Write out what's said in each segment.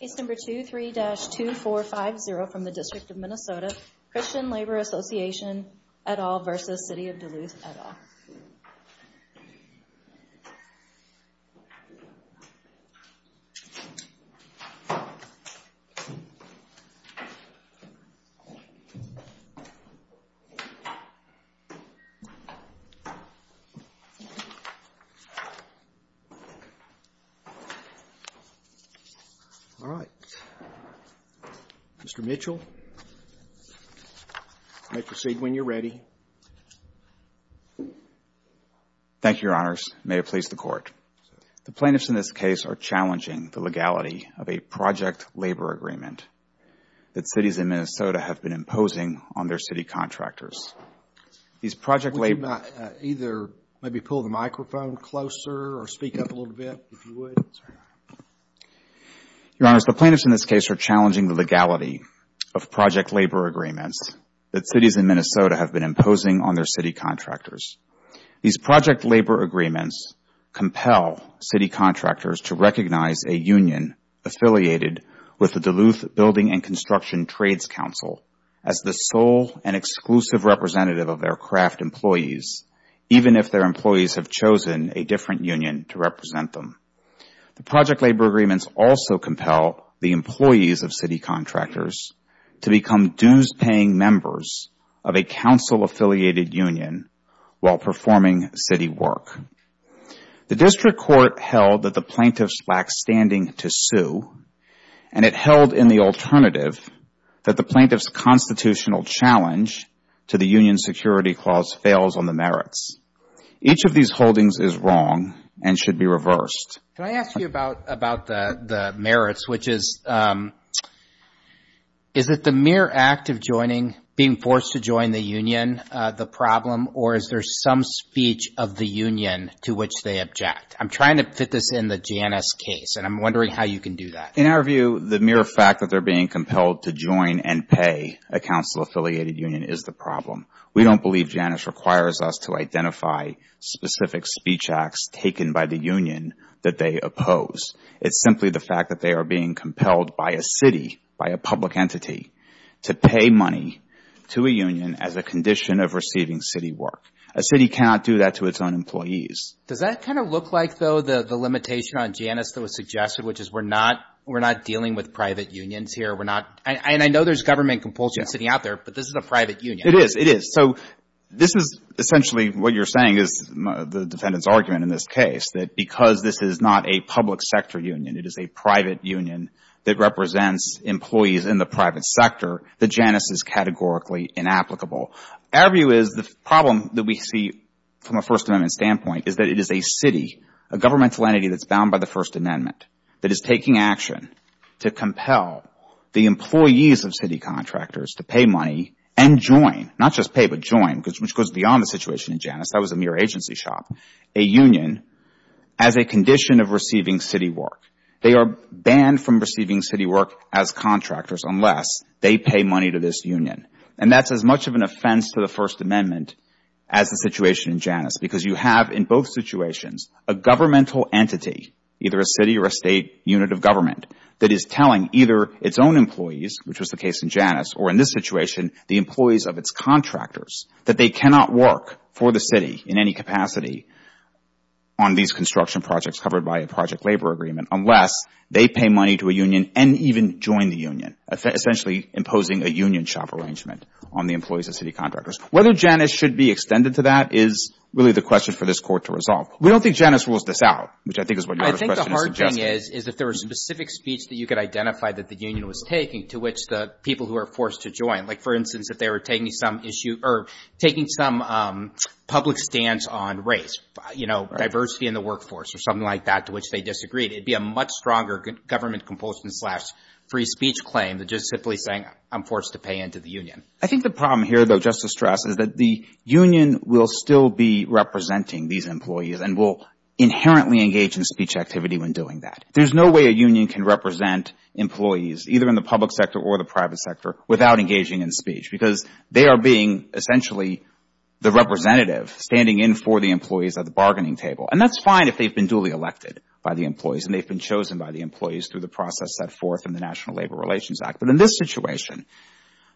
Case number 23-2450 from the District of Minnesota, Christian Labor Association et al. v. City of Duluth et al. All right. Mr. Mitchell, you may proceed when you're ready. Thank you, Your Honors. May it please the Court. The plaintiffs in this case are challenging the legality of a project labor agreement that cities in Minnesota have been imposing on their city contractors. These project labor agreements compel city contractors to recognize a union affiliated with the Duluth Building and Construction Trades Council as the sole and exclusive representative of their craft employees, even if their employees have chosen a different union to represent them. The project labor agreements also compel the employees of city contractors to become dues-paying members of a council-affiliated union while performing city work. The District Court held that the plaintiffs lack standing to sue, and it held in the alternative that the plaintiffs' constitutional challenge to the union security clause fails on the merits. Each of these holdings is wrong and should be reversed. Can I ask you about the merits, which is, is it the mere act of joining, being forced to join the union the problem, or is there some speech of the union to which they object? I'm trying to fit this in the Janus case, and I'm wondering how you can do that. In our view, the mere fact that they're being compelled to join and pay a council-affiliated union is the problem. We don't believe Janus requires us to identify specific speech acts taken by the union that they oppose. It's simply the fact that they are being compelled by a city, by a public entity, to pay money to a union as a condition of receiving city work. A city cannot do that to its own employees. Does that kind of look like, though, the limitation on Janus that was suggested, which is we're not, we're not dealing with private unions here? We're not, and I know there's government compulsion sitting out there, but this is a private union. It is. It is. So this is essentially what you're saying is the defendant's argument in this case, that because this is not a public sector union, it is a private union that represents employees in the private sector, that Janus is categorically inapplicable. Our view is the problem that we see from a First Amendment standpoint is that it is a city, a governmental entity that's bound by the First Amendment, that is taking action to compel the employees of city contractors to pay money and join, not just pay, but join, which goes beyond the situation in Janus. That was a mere agency shop. A union as a condition of receiving city work. They are banned from receiving city work as contractors unless they pay money to this union. And that's as much of an offense to the First Amendment as the situation in Janus, because you have in both situations a governmental entity, either a city or a State unit of government, that is telling either its own employees, which was the case in Janus, or in this situation, the employees of its contractors, that they cannot work for the city in any capacity on these construction projects covered by a project labor agreement unless they pay money to a union and even join the union, essentially imposing a union shop arrangement on the employees of city contractors. Whether Janus should be extended to that is really the question for this Court to resolve. We don't think Janus rules this out, which I think is what your question is suggesting. I think the hard thing is, is if there was a specific speech that you could identify that the union was taking to which the people who are forced to join, like, for instance, if they were taking some public stance on race, you know, diversity in the workforce or something like that, to which they disagreed, it would be a much stronger government compulsion slash free speech claim than just simply saying, I'm forced to pay into the union. I think the problem here, though, just to stress, is that the union will still be representing these employees and will inherently engage in speech activity when doing that. There's no way a union can represent employees, either in the public sector or the private sector, without engaging in speech, because they are being essentially the representative standing in for the employees at the bargaining table. And that's fine if they've been duly elected by the employees and they've been chosen by the employees through the process set forth in the National Labor Relations Act. But in this situation,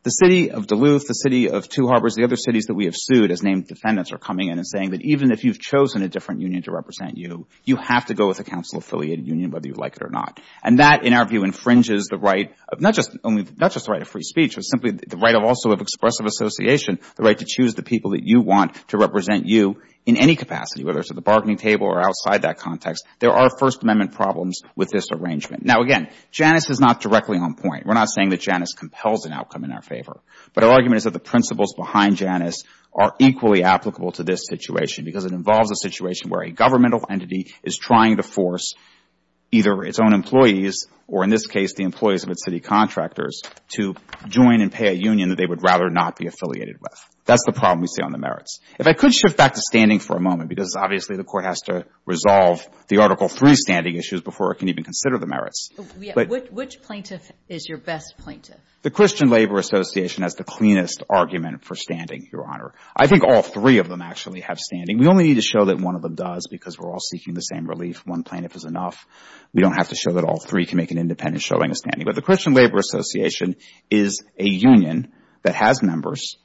the City of Duluth, the City of Two Harbors, the other cities that we have sued as named defendants are coming in and saying that even if you've chosen a different union to represent you, you have to go with a council-affiliated union, whether you like it or not. And that, in our view, infringes the right of not just the right of free speech, but simply the right also of expressive association, the right to choose the people that you want to represent you in any capacity, whether it's at the bargaining table or outside that context. There are First Amendment problems with this arrangement. Now, again, Janus is not directly on point. We're not saying that Janus compels an outcome in our favor. But our argument is that the principles behind Janus are equally applicable to this situation, because it involves a situation where a governmental entity is trying to force either its own employees, or in this case, the employees of its city contractors, to join and pay a union that they would rather not be affiliated with. That's the problem we see on the merits. If I could shift back to standing for a moment, because obviously the Court has to resolve the Article III standing issues before it can even consider the merits. But which plaintiff is your best plaintiff? The Christian Labor Association has the cleanest argument for standing, Your Honor. I think all three of them actually have standing. We only need to show that one of them does because we're all seeking the same relief. One plaintiff is enough. We don't have to show that all three can make an independent showing of standing. But the Christian Labor Association is a union that has members,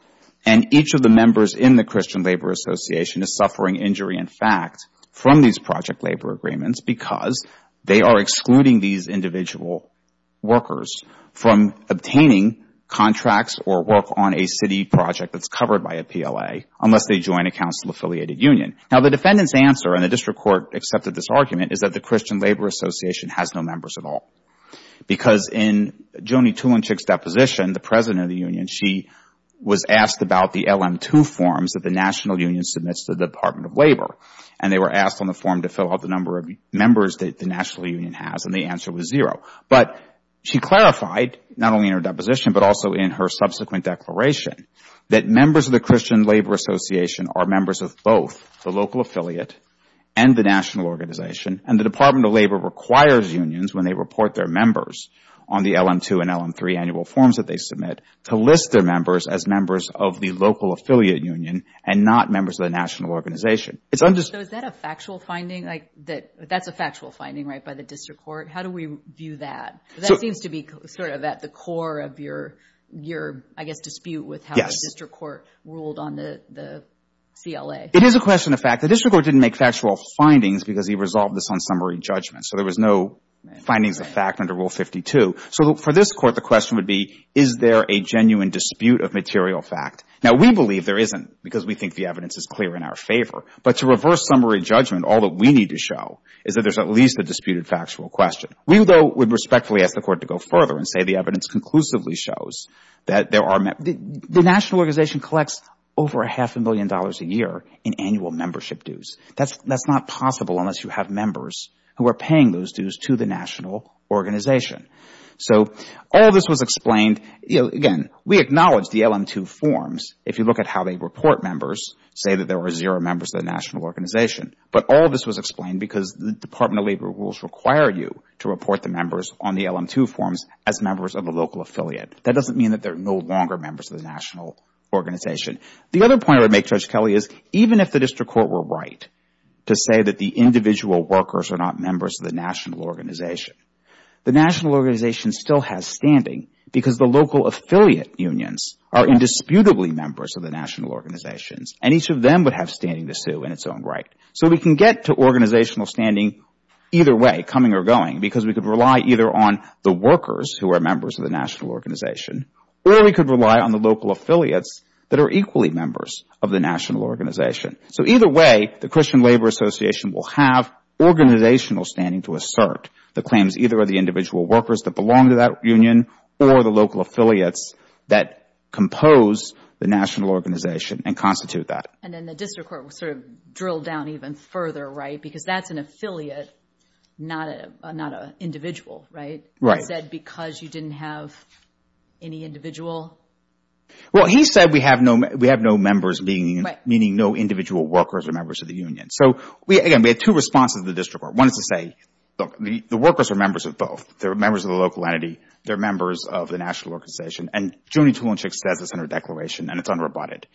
and each of the members in the Christian Labor Association is suffering injury in fact from these project labor agreements because they are excluding these individual workers from obtaining contracts or work on a city project that's covered by a PLA unless they join a council-affiliated union. Now, the defendant's answer, and the district court accepted this argument, is that the Christian Labor Association has no members at all. Because in Joni Tulinchik's deposition, the president of the union, she was asked about the LM-II forms that the National Union submits to the Department of Labor. And they were asked on the form to fill out the number of members that the National Union has, and the answer was zero. But she clarified, not only in her deposition, but also in her subsequent declaration, that members of the Christian Labor Association are members of both the local affiliate and the national organization, and the Department of Labor requires unions, when they report their members on the LM-II and LM-III annual forms that they submit, to list their members as members of the local affiliate union and not members of the national organization. It's understandable. So is that a factual finding? Like, that's a factual finding, right, by the district court? How do we view that? That seems to be sort of at the core of your, I guess, dispute with how the district court ruled on the CLA. It is a question of fact. The district court didn't make factual findings because he resolved this on summary judgment. So there was no findings of fact under Rule 52. So for this court, the question would be, is there a genuine dispute of material fact? Now, we believe there isn't, because we think the evidence is clear in our favor. But to reverse summary judgment, all that we need to show is that there's at least a disputed factual question. We, though, would respectfully ask the court to go further and say the evidence conclusively shows that there are, the national organization collects over a half a million dollars a year in annual membership dues. That's not possible unless you have members who are paying those dues to the national organization. So all this was explained, again, we acknowledge the LM2 forms. If you look at how they report members, say that there were zero members of the national organization. But all this was explained because the Department of Labor rules require you to report the members on the LM2 forms as members of the local affiliate. That doesn't mean that they're no longer members of the national organization. The other point I would make, Judge Kelley, is even if the district court were right to say that the individual workers are not members of the national organization, the national organization still has standing because the local affiliate unions are indisputably members of the national organizations. And each of them would have standing to sue in its own right. So we can get to organizational standing either way, coming or going, because we could rely either on the workers who are members of the national organization, or we could rely on the local affiliates that are equally members of the national organization. So either way, the Christian Labor Association will have organizational standing to assert the claims either of the individual workers that belong to that union or the local affiliates that compose the national organization and constitute that. And then the district court would sort of drill down even further, right, because that's an affiliate, not an individual, right, instead because you didn't have any individual? Well, he said we have no members, meaning no individual workers or members of the union. So again, we had two responses to the district court. One is to say, look, the workers are members of both. They're members of the local entity. They're members of the national organization. And Joanie Tulinczyk says this in her declaration, and it's unrebutted.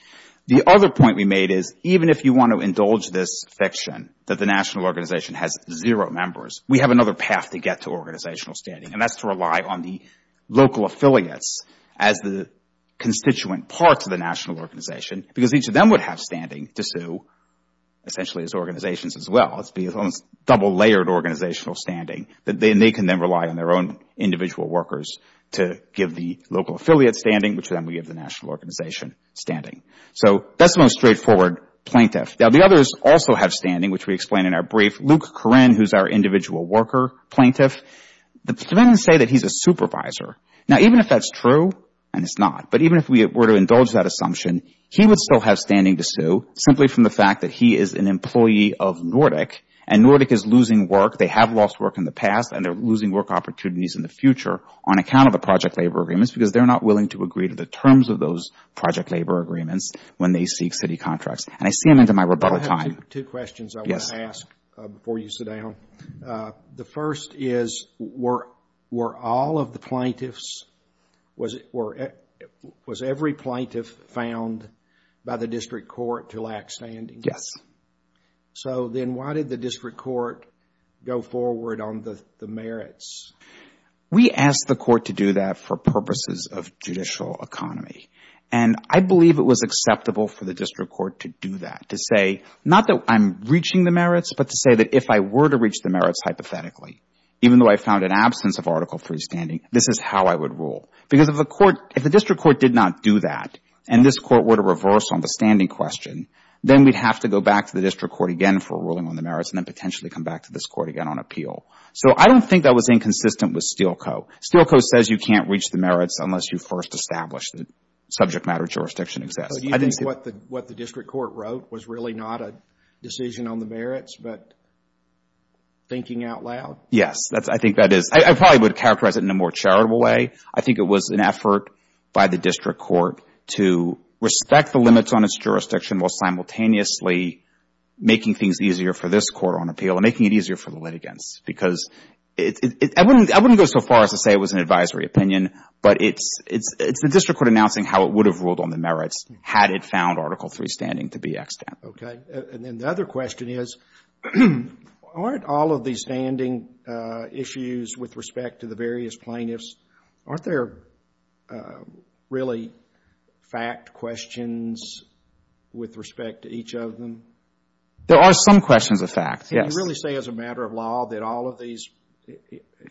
The other point we made is even if you want to indulge this fiction that the national organization has zero members, we have another path to get to organizational standing, and that's to rely on the local affiliates as the constituent parts of the national organization, because each of them would have standing to sue, essentially, as organizations as well. It's almost double-layered organizational standing, and they can then rely on their own individual workers to give the local affiliate standing, which then we give the national organization standing. So that's the most straightforward plaintiff. Now, the others also have standing, which we explain in our brief. Luke Koren, who's our individual worker plaintiff, the plaintiffs say that he's a supervisor. Now, even if that's true, and it's not, but even if we were to indulge that assumption, he would still have standing to sue simply from the fact that he is an employee of Nordic, and Nordic is losing work. They have lost work in the past, and they're losing work opportunities in the future on account of the project labor agreements because they're not willing to agree to the terms of those project labor agreements when they seek city contracts, and I see them into my rebuttal time. I have two questions I want to ask before you sit down. The first is, were all of the plaintiffs, was every plaintiff found by the district court to lack standing? Yes. So then why did the district court go forward on the merits? We asked the court to do that for purposes of judicial economy, and I believe it was acceptable for the district court to do that, to say, not that I'm reaching the merits, but to say that if I were to reach the merits hypothetically, even though I found an absence of Article III standing, this is how I would rule. Because if the court, if the district court did not do that, and this court were to reverse on the standing question, then we'd have to go back to the district court again for ruling on the merits and then potentially come back to this court again on appeal. So I don't think that was inconsistent with Steele Co. Steele Co. says you can't reach the merits unless you first establish that subject matter jurisdiction exists. So you think what the district court wrote was really not a decision on the merits, but thinking out loud? Yes, I think that is. I probably would characterize it in a more charitable way. I think it was an effort by the district court to respect the limits on its jurisdiction while simultaneously making things easier for this court on appeal and making it easier for the litigants. Because I wouldn't go so far as to say it was an advisory opinion, but it's the district court announcing how it would have ruled on the merits had it found Article III standing to be extant. Okay. And then the other question is, aren't all of these standing issues with respect to the various plaintiffs, aren't there really fact questions with respect to each of them? There are some questions of fact, yes. Can you really say as a matter of law that all of these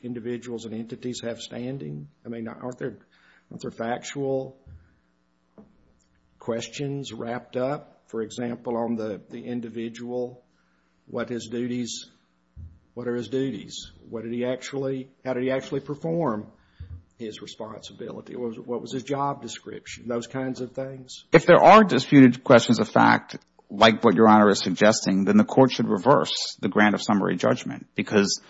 individuals and entities have standing? I mean, aren't there factual questions wrapped up? For example, on the individual, what are his duties? What did he actually, how did he actually perform his responsibility? What was his job description? Those kinds of things. If there are disputed questions of fact like what Your Honor is suggesting, then the court should reverse the grant of summary judgment. Because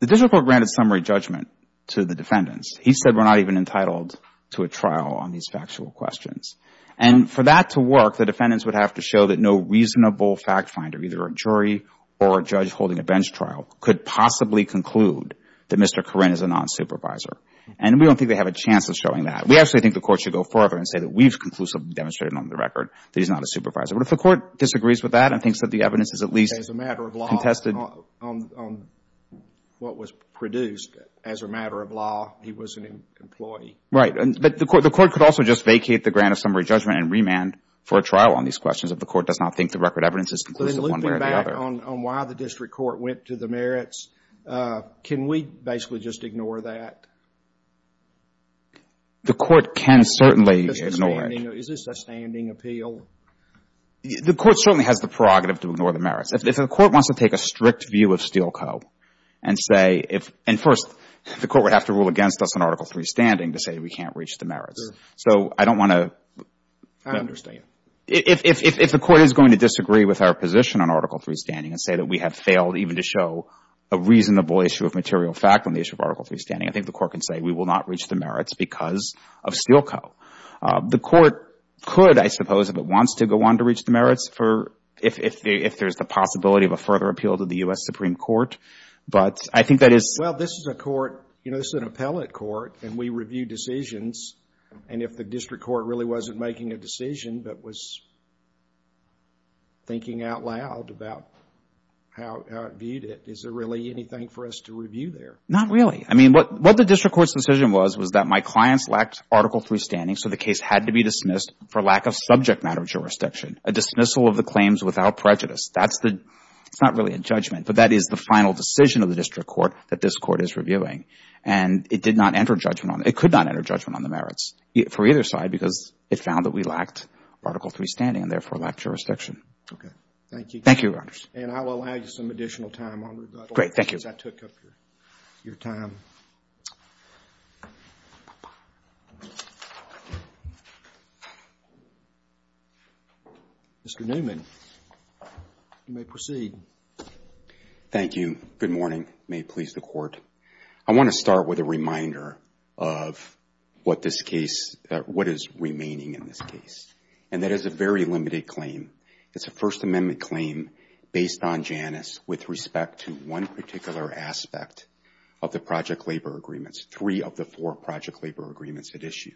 the district court granted summary judgment to the defendants. He said we're not even entitled to a trial on these factual questions. And for that to work, the defendants would have to show that no reasonable fact finder, either a jury or a judge holding a bench trial, could possibly conclude that Mr. Corrine is a non-supervisor. And we don't think they have a chance of showing that. We actually think the court should go further and say that we've conclusively demonstrated on the record that he's not a supervisor. But if the court disagrees with that and thinks that the evidence is at least contested. As a matter of law, on what was produced, as a matter of law, he was an employee. Right. But the court could also just vacate the grant of summary judgment and remand for a trial on these questions if the court does not think the record evidence is conclusive one way or the other. Then looping back on why the district court went to the merits, can we basically just ignore that? The court can certainly ignore it. Is this a standing appeal? The court certainly has the prerogative to ignore the merits. If the court wants to take a strict view of Steele Co. and say, and first, the court would have to rule against us on Article III standing to say we can't reach the merits. So I don't want to. I understand. If the court is going to disagree with our position on Article III standing and say that we have failed even to show a reasonable issue of material fact on the issue of Article III standing, I think the court can say we will not reach the merits because of Steele Co. The court could, I suppose, if it wants to, go on to reach the merits for, if there's the possibility of a further appeal to the U.S. Supreme Court. But I think that is Well, this is a court, you know, this is an appellate court, and we review decisions. And if the district court really wasn't making a decision but was thinking out loud about how it viewed it, is there really anything for us to review there? Not really. I mean, what the district court's decision was, was that my clients lacked Article III standing, so the case had to be dismissed for lack of subject matter jurisdiction, a dismissal of the claims without prejudice. That's the, it's not really a judgment, but that is the final decision of the district court that this court is reviewing. And it did not enter judgment on, it could not enter judgment on the merits for either side because it found that we lacked Article III standing and, therefore, lacked jurisdiction. Okay. Thank you. Thank you, Your Honors. And I will allow you some additional time on rebuttal. Great. Thank you. Since I took up your time. Mr. Newman, you may proceed. Thank you. Good morning. May it please the Court. I want to start with a reminder of what this case, what is remaining in this case. And that is a very limited claim. It's a First Amendment claim based on Janus with respect to one particular aspect of the Project Labor Agreements, three of the four Project Labor Agreements at issue.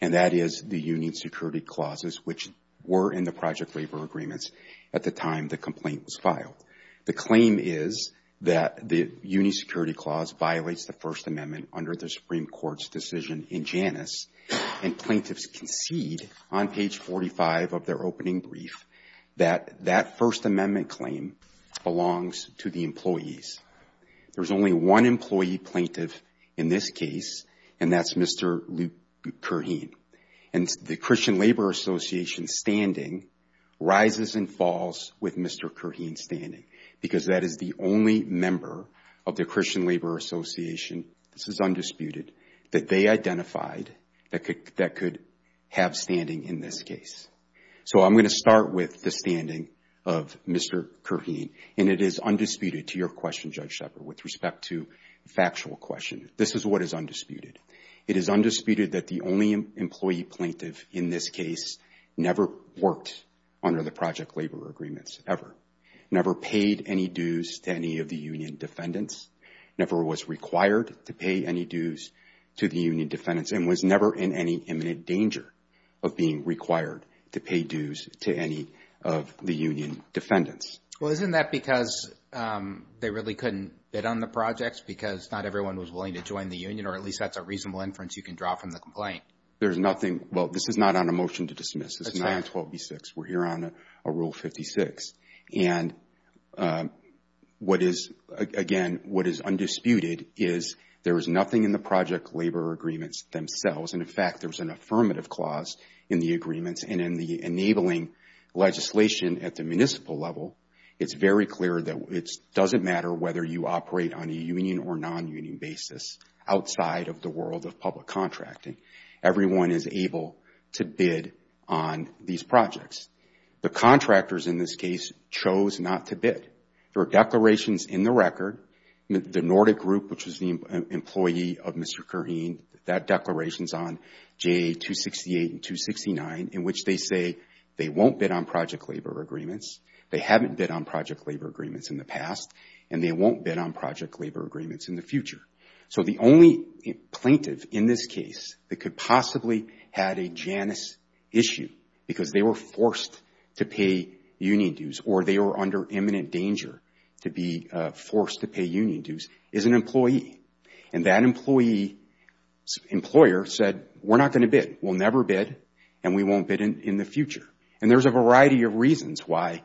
And that is the Union Security Clauses, which were in the Project Labor Agreements at the time the complaint was filed. The claim is that the Union Security Clause violates the First Amendment under the Supreme Court's decision in Janus, and plaintiffs concede on page 45 of their opening brief, that that First Amendment claim belongs to the employees. There's only one employee plaintiff in this case, and that's Mr. Luke Curheen. And the Christian Labor Association standing rises and falls with Mr. Curheen standing because that is the only member of the Christian Labor Association, this is undisputed, that they identified that could have standing in this case. So I'm going to start with the standing of Mr. Curheen, and it is undisputed to your question, Judge Shepherd, with respect to the factual question. This is what is undisputed. It is undisputed that the only employee plaintiff in this case never worked under the Project Labor Agreements, ever. Never paid any dues to any of the union defendants, never was required to pay any dues to the union defendants, and was never in any imminent danger of being required to pay dues to any of the union defendants. Well, isn't that because they really couldn't bid on the projects because not everyone was willing to join the union, or at least that's a reasonable inference you can draw from the There's nothing, well, this is not on a motion to dismiss. This is 912B6. We're here on a Rule 56. And what is, again, what is undisputed is there is nothing in the Project Labor Agreements themselves, and in fact, there's an affirmative clause in the agreements, and in the enabling legislation at the municipal level, it's very clear that it doesn't matter whether you operate on a union or non-union basis outside of the world of public contracting. Everyone is able to bid on these projects. The contractors in this case chose not to bid. There are declarations in the record. The Nordic Group, which is the employee of Mr. Kareem, that declaration's on JA 268 and 269, in which they say they won't bid on Project Labor Agreements, they haven't bid on Project Labor Agreements in the past, and they won't bid on Project Labor Agreements in the future. So the only plaintiff in this case that could possibly have a Janus issue because they were forced to pay union dues or they were under imminent danger to be forced to pay union dues is an employee. And that employee's employer said, we're not going to bid, we'll never bid, and we won't bid in the future. And there's a variety of reasons why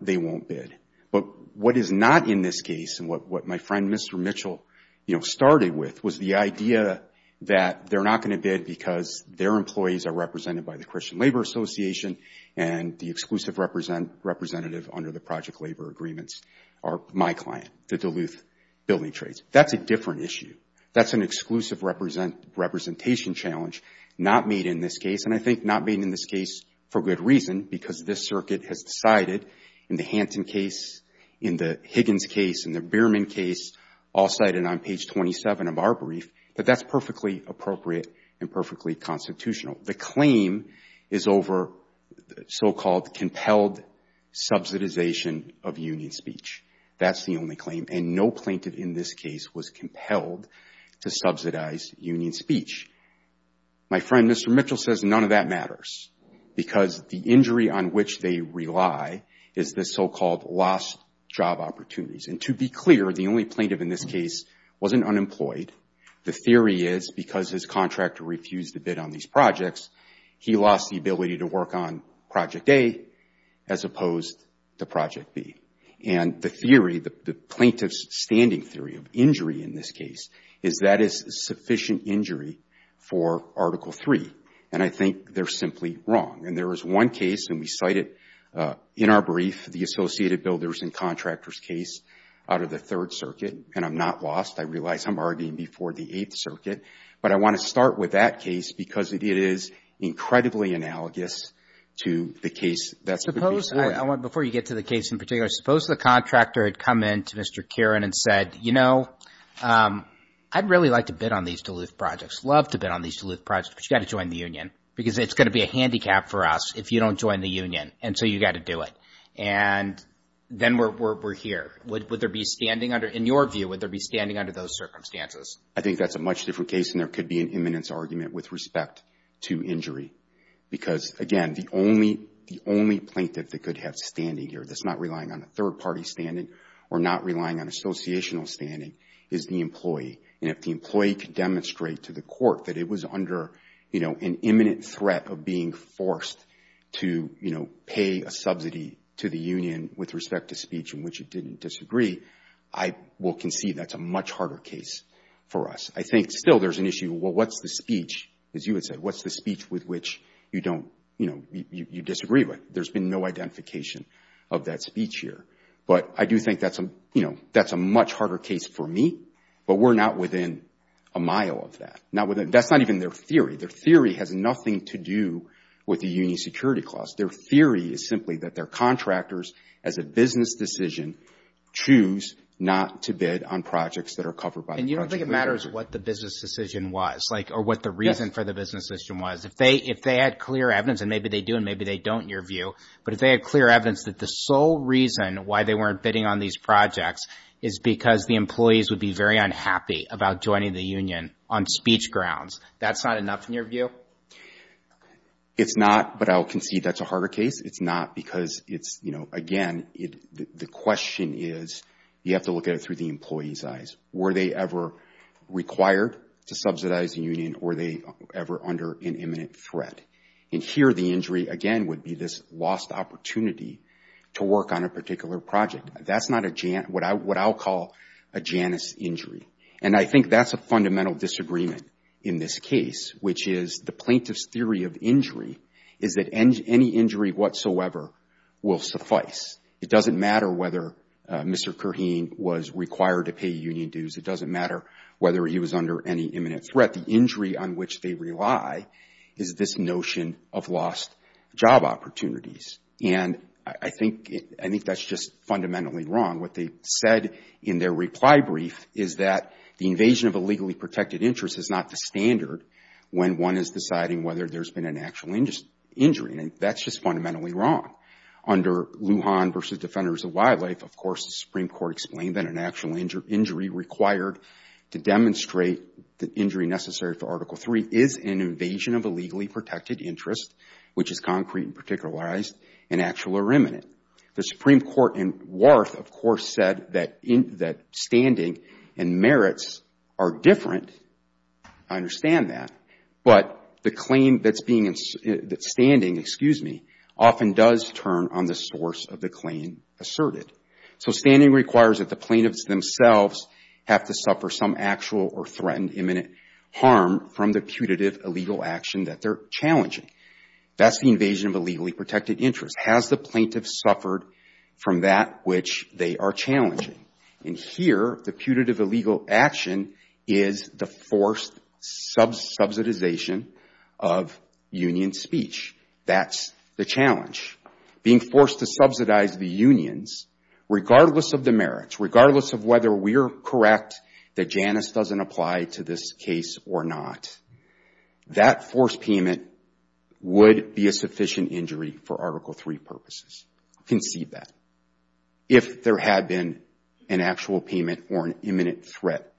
they won't bid. But what is not in this case, and what my friend Mr. Mitchell, you know, started with was the idea that they're not going to bid because their employees are represented by the Christian Labor Association, and the exclusive representative under the Project Labor Agreements are my client, the Duluth Building Trades. That's a different issue. That's an exclusive representation challenge not made in this case, and I think not made in this case for good reason, because this circuit has decided in the Hanton case, in the Higgins case, in the Bierman case, all cited on page 27 of our brief, that that's perfectly appropriate and perfectly constitutional. The claim is over so-called compelled subsidization of union speech. That's the only claim, and no plaintiff in this case was compelled to subsidize union speech. My friend Mr. Mitchell says none of that matters, because the injury on which they rely is the so-called lost job opportunities. And to be clear, the only plaintiff in this case wasn't unemployed. The theory is, because his contractor refused to bid on these projects, he lost the ability to work on Project A as opposed to Project B. And the theory, the plaintiff's standing theory of injury in this case, is that is sufficient injury for Article III, and I think they're simply wrong. And there is one case, and we cite it in our brief, the Associated Builders and Contractors case out of the Third Circuit, and I'm not lost. I realize I'm arguing before the Eighth Circuit, but I want to start with that case, because it is incredibly analogous to the case that's before that. Before you get to the case in particular, suppose the contractor had come in to Mr. Kieran and said, you know, I'd really like to bid on these Duluth projects, love to bid on these Duluth projects, but you got to join the union, because it's going to be a handicap for us if you don't join the union, and so you got to do it. And then we're here. Would there be standing under, in your view, would there be standing under those circumstances? I think that's a much different case, and there could be an imminence argument with respect to injury, because, again, the only plaintiff that could have standing here that's not relying on a third-party standing or not relying on associational standing is the employee. And if the employee could demonstrate to the court that it was under, you know, an imminent threat of being forced to, you know, pay a subsidy to the union with respect to speech in which it didn't disagree, I will concede that's a much harder case for us. I think still there's an issue, well, what's the speech, as you had said, what's the speech with which you don't, you know, you disagree with? There's been no identification of that speech here. But I do think that's a, you know, that's a much harder case for me, but we're not within a mile of that. That's not even their theory. Their theory has nothing to do with the union security clause. Their theory is simply that their contractors as a business decision choose not to bid on projects that are covered by the project manager. And you don't think it matters what the business decision was, like, or what the reason for the business decision was? If they had clear evidence, and maybe they do and maybe they don't in your view, but if they had clear evidence that the sole reason why they weren't bidding on these projects is because the employees would be very unhappy about joining the union on speech grounds, that's not enough in your view? No. It's not, but I'll concede that's a harder case. It's not because it's, you know, again, the question is you have to look at it through the employee's eyes. Were they ever required to subsidize the union or were they ever under an imminent threat? And here the injury, again, would be this lost opportunity to work on a particular project. That's not a, what I'll call a Janus injury. And I think that's a fundamental disagreement in this case, which is the plaintiff's theory of injury is that any injury whatsoever will suffice. It doesn't matter whether Mr. Kurheen was required to pay union dues. It doesn't matter whether he was under any imminent threat. The injury on which they rely is this notion of lost job opportunities. And I think that's just fundamentally wrong. What they said in their reply brief is that the invasion of a legally protected interest is not the standard when one is deciding whether there's been an actual injury. And that's just fundamentally wrong. Under Lujan v. Defenders of Wildlife, of course, the Supreme Court explained that an actual injury required to demonstrate the injury necessary for Article III is an invasion of a legally protected interest, which is concrete and particularized and actual or imminent. The Supreme Court in Warth, of course, said that standing and merits are different. I mean, but the claim that's being, that standing, excuse me, often does turn on the source of the claim asserted. So standing requires that the plaintiffs themselves have to suffer some actual or threatened imminent harm from the putative illegal action that they're challenging. That's the invasion of a legally protected interest. Has the plaintiff suffered from that which they are challenging? And here, the putative illegal action is the forced subsidization of union speech. That's the challenge. Being forced to subsidize the unions, regardless of the merits, regardless of whether we're correct that Janus doesn't apply to this case or not, that forced payment would be a sufficient injury for Article III purposes. Concede that. If there had been an actual payment or an imminent threat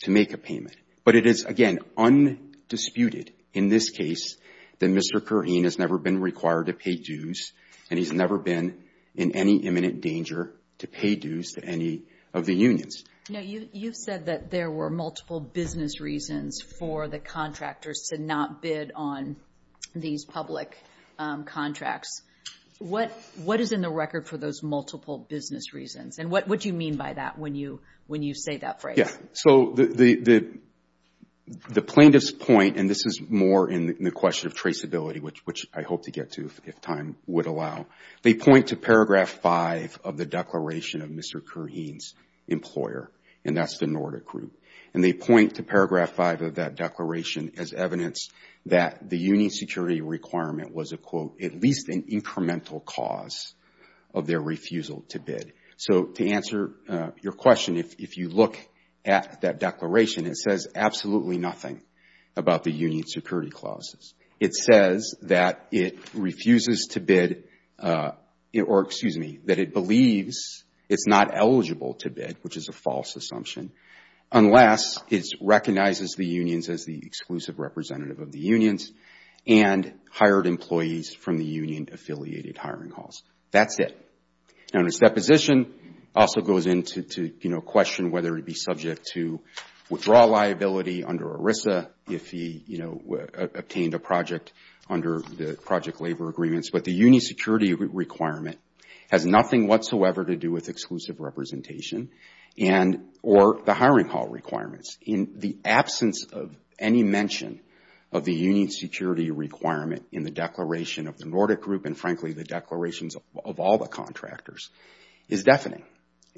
to make a payment. But it is, again, undisputed in this case that Mr. Kareen has never been required to pay dues, and he's never been in any imminent danger to pay dues to any of the unions. Now, you've said that there were multiple business reasons for the contractors to not bid on these public contracts. What is in the record for those multiple business reasons? And what do you mean by that when you say that phrase? So, the plaintiff's point, and this is more in the question of traceability, which I hope to get to if time would allow, they point to paragraph five of the declaration of Mr. Kareen's employer, and that's the Nordic Group. And they point to paragraph five of that declaration as evidence that the union security requirement was at least an incremental cause of their refusal to bid. So, to answer your question, if you look at that declaration, it says absolutely nothing about the union security clauses. It says that it refuses to bid, or excuse me, that it believes it's not eligible to bid, which is a false assumption, unless it recognizes the unions as the exclusive representative of the unions and hired employees from the union-affiliated hiring halls. That's it. Now, in its deposition, it also goes into question whether it would be subject to withdrawal liability under ERISA if he obtained a project under the project labor agreements. But the union security requirement has nothing whatsoever to do with exclusive representation or the hiring hall requirements. In the absence of any mention of the union security requirement in the declaration of the Nordic Group, and frankly, the declarations of all the contractors, is deafening,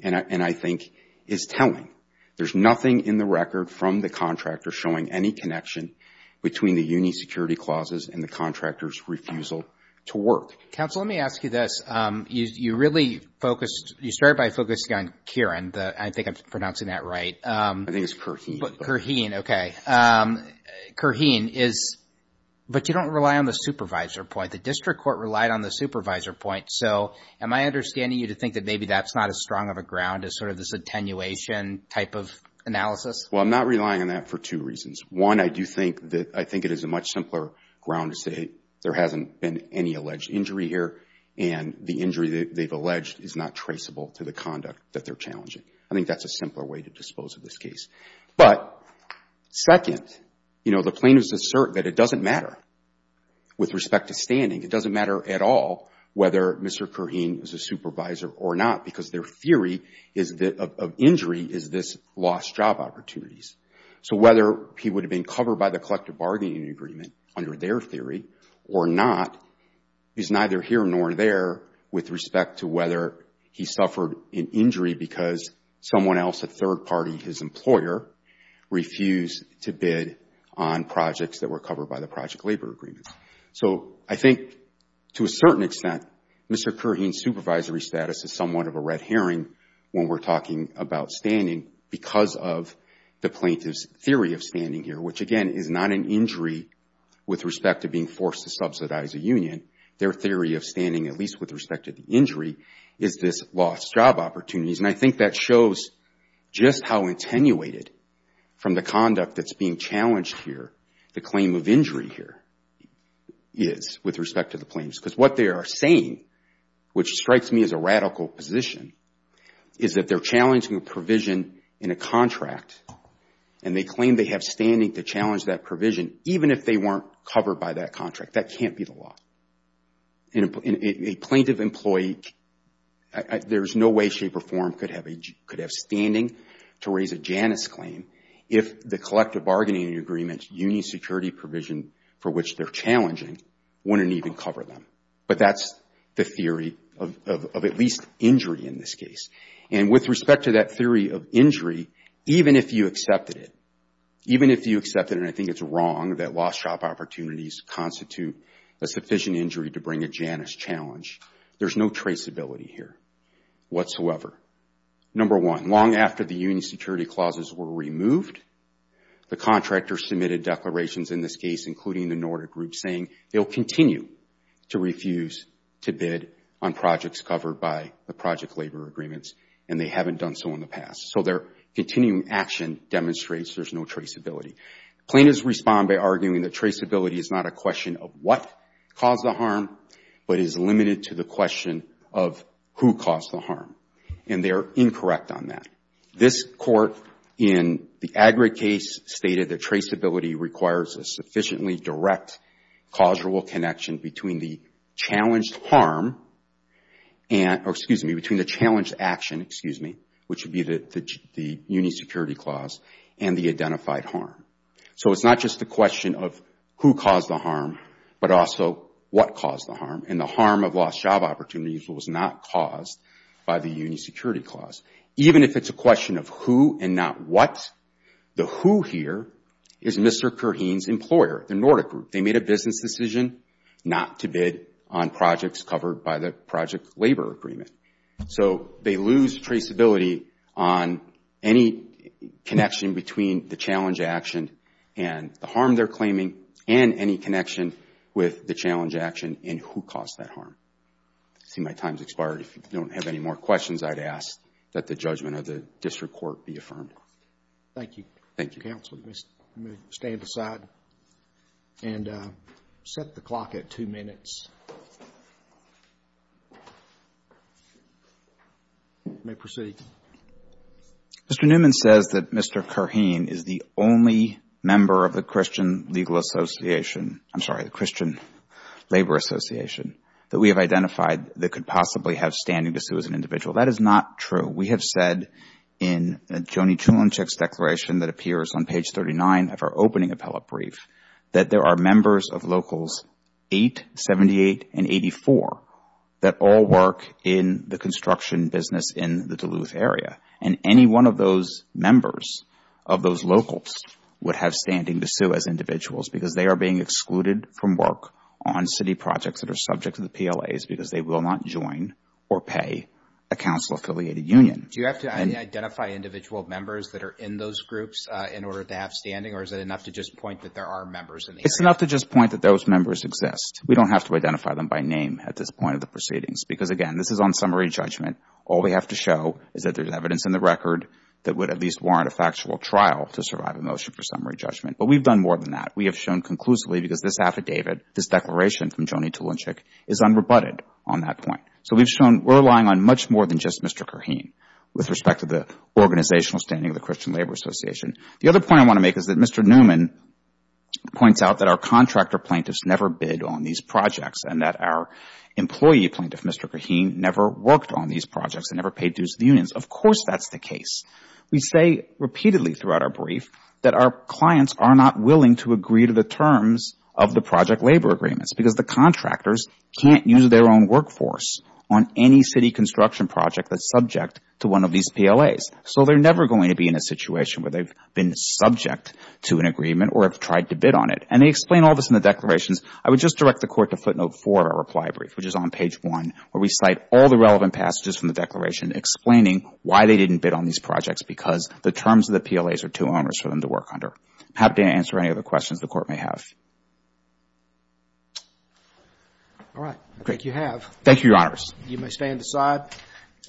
and I think is telling. There's nothing in the record from the contractor showing any connection between the union security clauses and the contractor's refusal to work. Counsel, let me ask you this. You really focused, you started by focusing on Kareen. I think I'm pronouncing that right. I think it's Kareen. Kareen, okay. Kareen is, but you don't rely on the supervisor point. The district court relied on the supervisor point. So, am I understanding you to think that maybe that's not as strong of a ground as sort of this attenuation type of analysis? Well, I'm not relying on that for two reasons. One, I do think that, I think it is a much simpler ground to say, hey, there hasn't been any alleged injury here, and the injury they've alleged is not traceable to the conduct that they're challenging. I think that's a simpler way to dispose of this case. But second, the plaintiffs assert that it doesn't matter with respect to standing. It doesn't matter at all whether Mr. Kareen is a supervisor or not because their theory of injury is this lost job opportunities. So, whether he would have been covered by the collective bargaining agreement under their theory or not is neither here nor there with respect to whether he suffered an injury because someone else, a third party, his employer, refused to bid on projects that were covered by the project labor agreement. So, I think to a certain extent, Mr. Kareen's supervisory status is somewhat of a red herring when we're talking about standing because of the plaintiff's theory of standing here, which again is not an injury with respect to being forced to subsidize a union. Their theory of standing, at least with respect to the injury, is this lost job opportunities. And I think that shows just how attenuated from the conduct that's being challenged here, the claim of injury here is with respect to the plaintiffs because what they are saying, which strikes me as a radical position, is that they're challenging a provision in a contract and they claim they have standing to challenge that provision even if they weren't covered by that contract. That can't be the law. A plaintiff employee, there's no way shape or form could have standing to raise a Janus claim if the collective bargaining agreement union security provision for which they're challenging wouldn't even cover them. But that's the theory of at least injury in this case. And with respect to that theory of injury, even if you accepted it, even if you accepted and I think it's wrong that lost job opportunities constitute a sufficient injury to bring a Janus challenge, there's no traceability here whatsoever. Number one, long after the union security clauses were removed, the contractor submitted declarations in this case, including the Nordic Group, saying they'll continue to refuse to bid on projects covered by the project labor agreements and they haven't done so in the Plaintiffs respond by arguing that traceability is not a question of what caused the harm, but is limited to the question of who caused the harm. And they are incorrect on that. This court in the Agri case stated that traceability requires a sufficiently direct, causable connection between the challenged harm, or excuse me, between the challenged action, excuse me, which would be the union security clause and the identified harm. So it's not just the question of who caused the harm, but also what caused the harm. And the harm of lost job opportunities was not caused by the union security clause. Even if it's a question of who and not what, the who here is Mr. Kurheen's employer, the Nordic Group. They made a business decision not to bid on projects covered by the project labor agreement. So they lose traceability on any connection between the challenge action and the harm they're claiming, and any connection with the challenge action and who caused that harm. I see my time has expired. If you don't have any more questions, I'd ask that the judgment of the district court be affirmed. Thank you, counsel. Let me stand aside and set the clock at two minutes. You may proceed. Mr. Newman says that Mr. Kurheen is the only member of the Christian Legal Association — I'm sorry, the Christian Labor Association that we have identified that could possibly have standing to sue as an individual. That is not true. We have said in Joni Chulinskik's declaration that appears on page 39 of our opening appellate brief that there are members of Locals 8, 78, and 84 that all work in the construction business in the Duluth area, and any one of those members of those locals would have standing to sue as individuals because they are being excluded from work on city projects that are subject to the PLAs because they will not join or pay a council-affiliated union. Do you have to identify individual members that are in those groups in order to have standing, or is it enough to just point that there are members in the area? It's enough to just point that those members exist. We don't have to identify them by name at this point of the proceedings because, again, this is on summary judgment. All we have to show is that there's evidence in the record that would at least warrant a factual trial to survive a motion for summary judgment. But we've done more than that. We have shown conclusively because this affidavit, this declaration from Joni Chulinskik is unrebutted on that point. So we've shown we're relying on much more than just Mr. Kurheen with respect to the organizational standing of the Christian Labor Association. The other point I want to make is that Mr. Newman points out that our contractor plaintiffs never bid on these projects and that our employee plaintiff, Mr. Kurheen, never worked on these projects and never paid dues to the unions. Of course that's the case. We say repeatedly throughout our brief that our clients are not willing to agree to the terms of the project labor agreements because the contractors can't use their own workforce on any city construction project that's subject to one of these PLAs. So they're never going to be in a situation where they've been subject to an agreement or have tried to bid on it. And they explain all this in the declarations. I would just direct the Court to footnote 4 of our reply brief, which is on page 1, where we cite all the relevant passages from the declaration explaining why they didn't bid on these projects because the terms of the PLAs are too onerous for them to work under. I'm happy to answer any other questions the Court may have. Roberts. All right. Thank you, Your Honors. You may stand aside.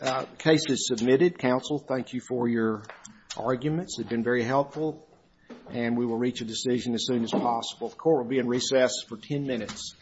The case is submitted. Counsel, thank you for your arguments. They've been very helpful. And we will reach a decision as soon as possible. The Court will be in recess for 10 minutes.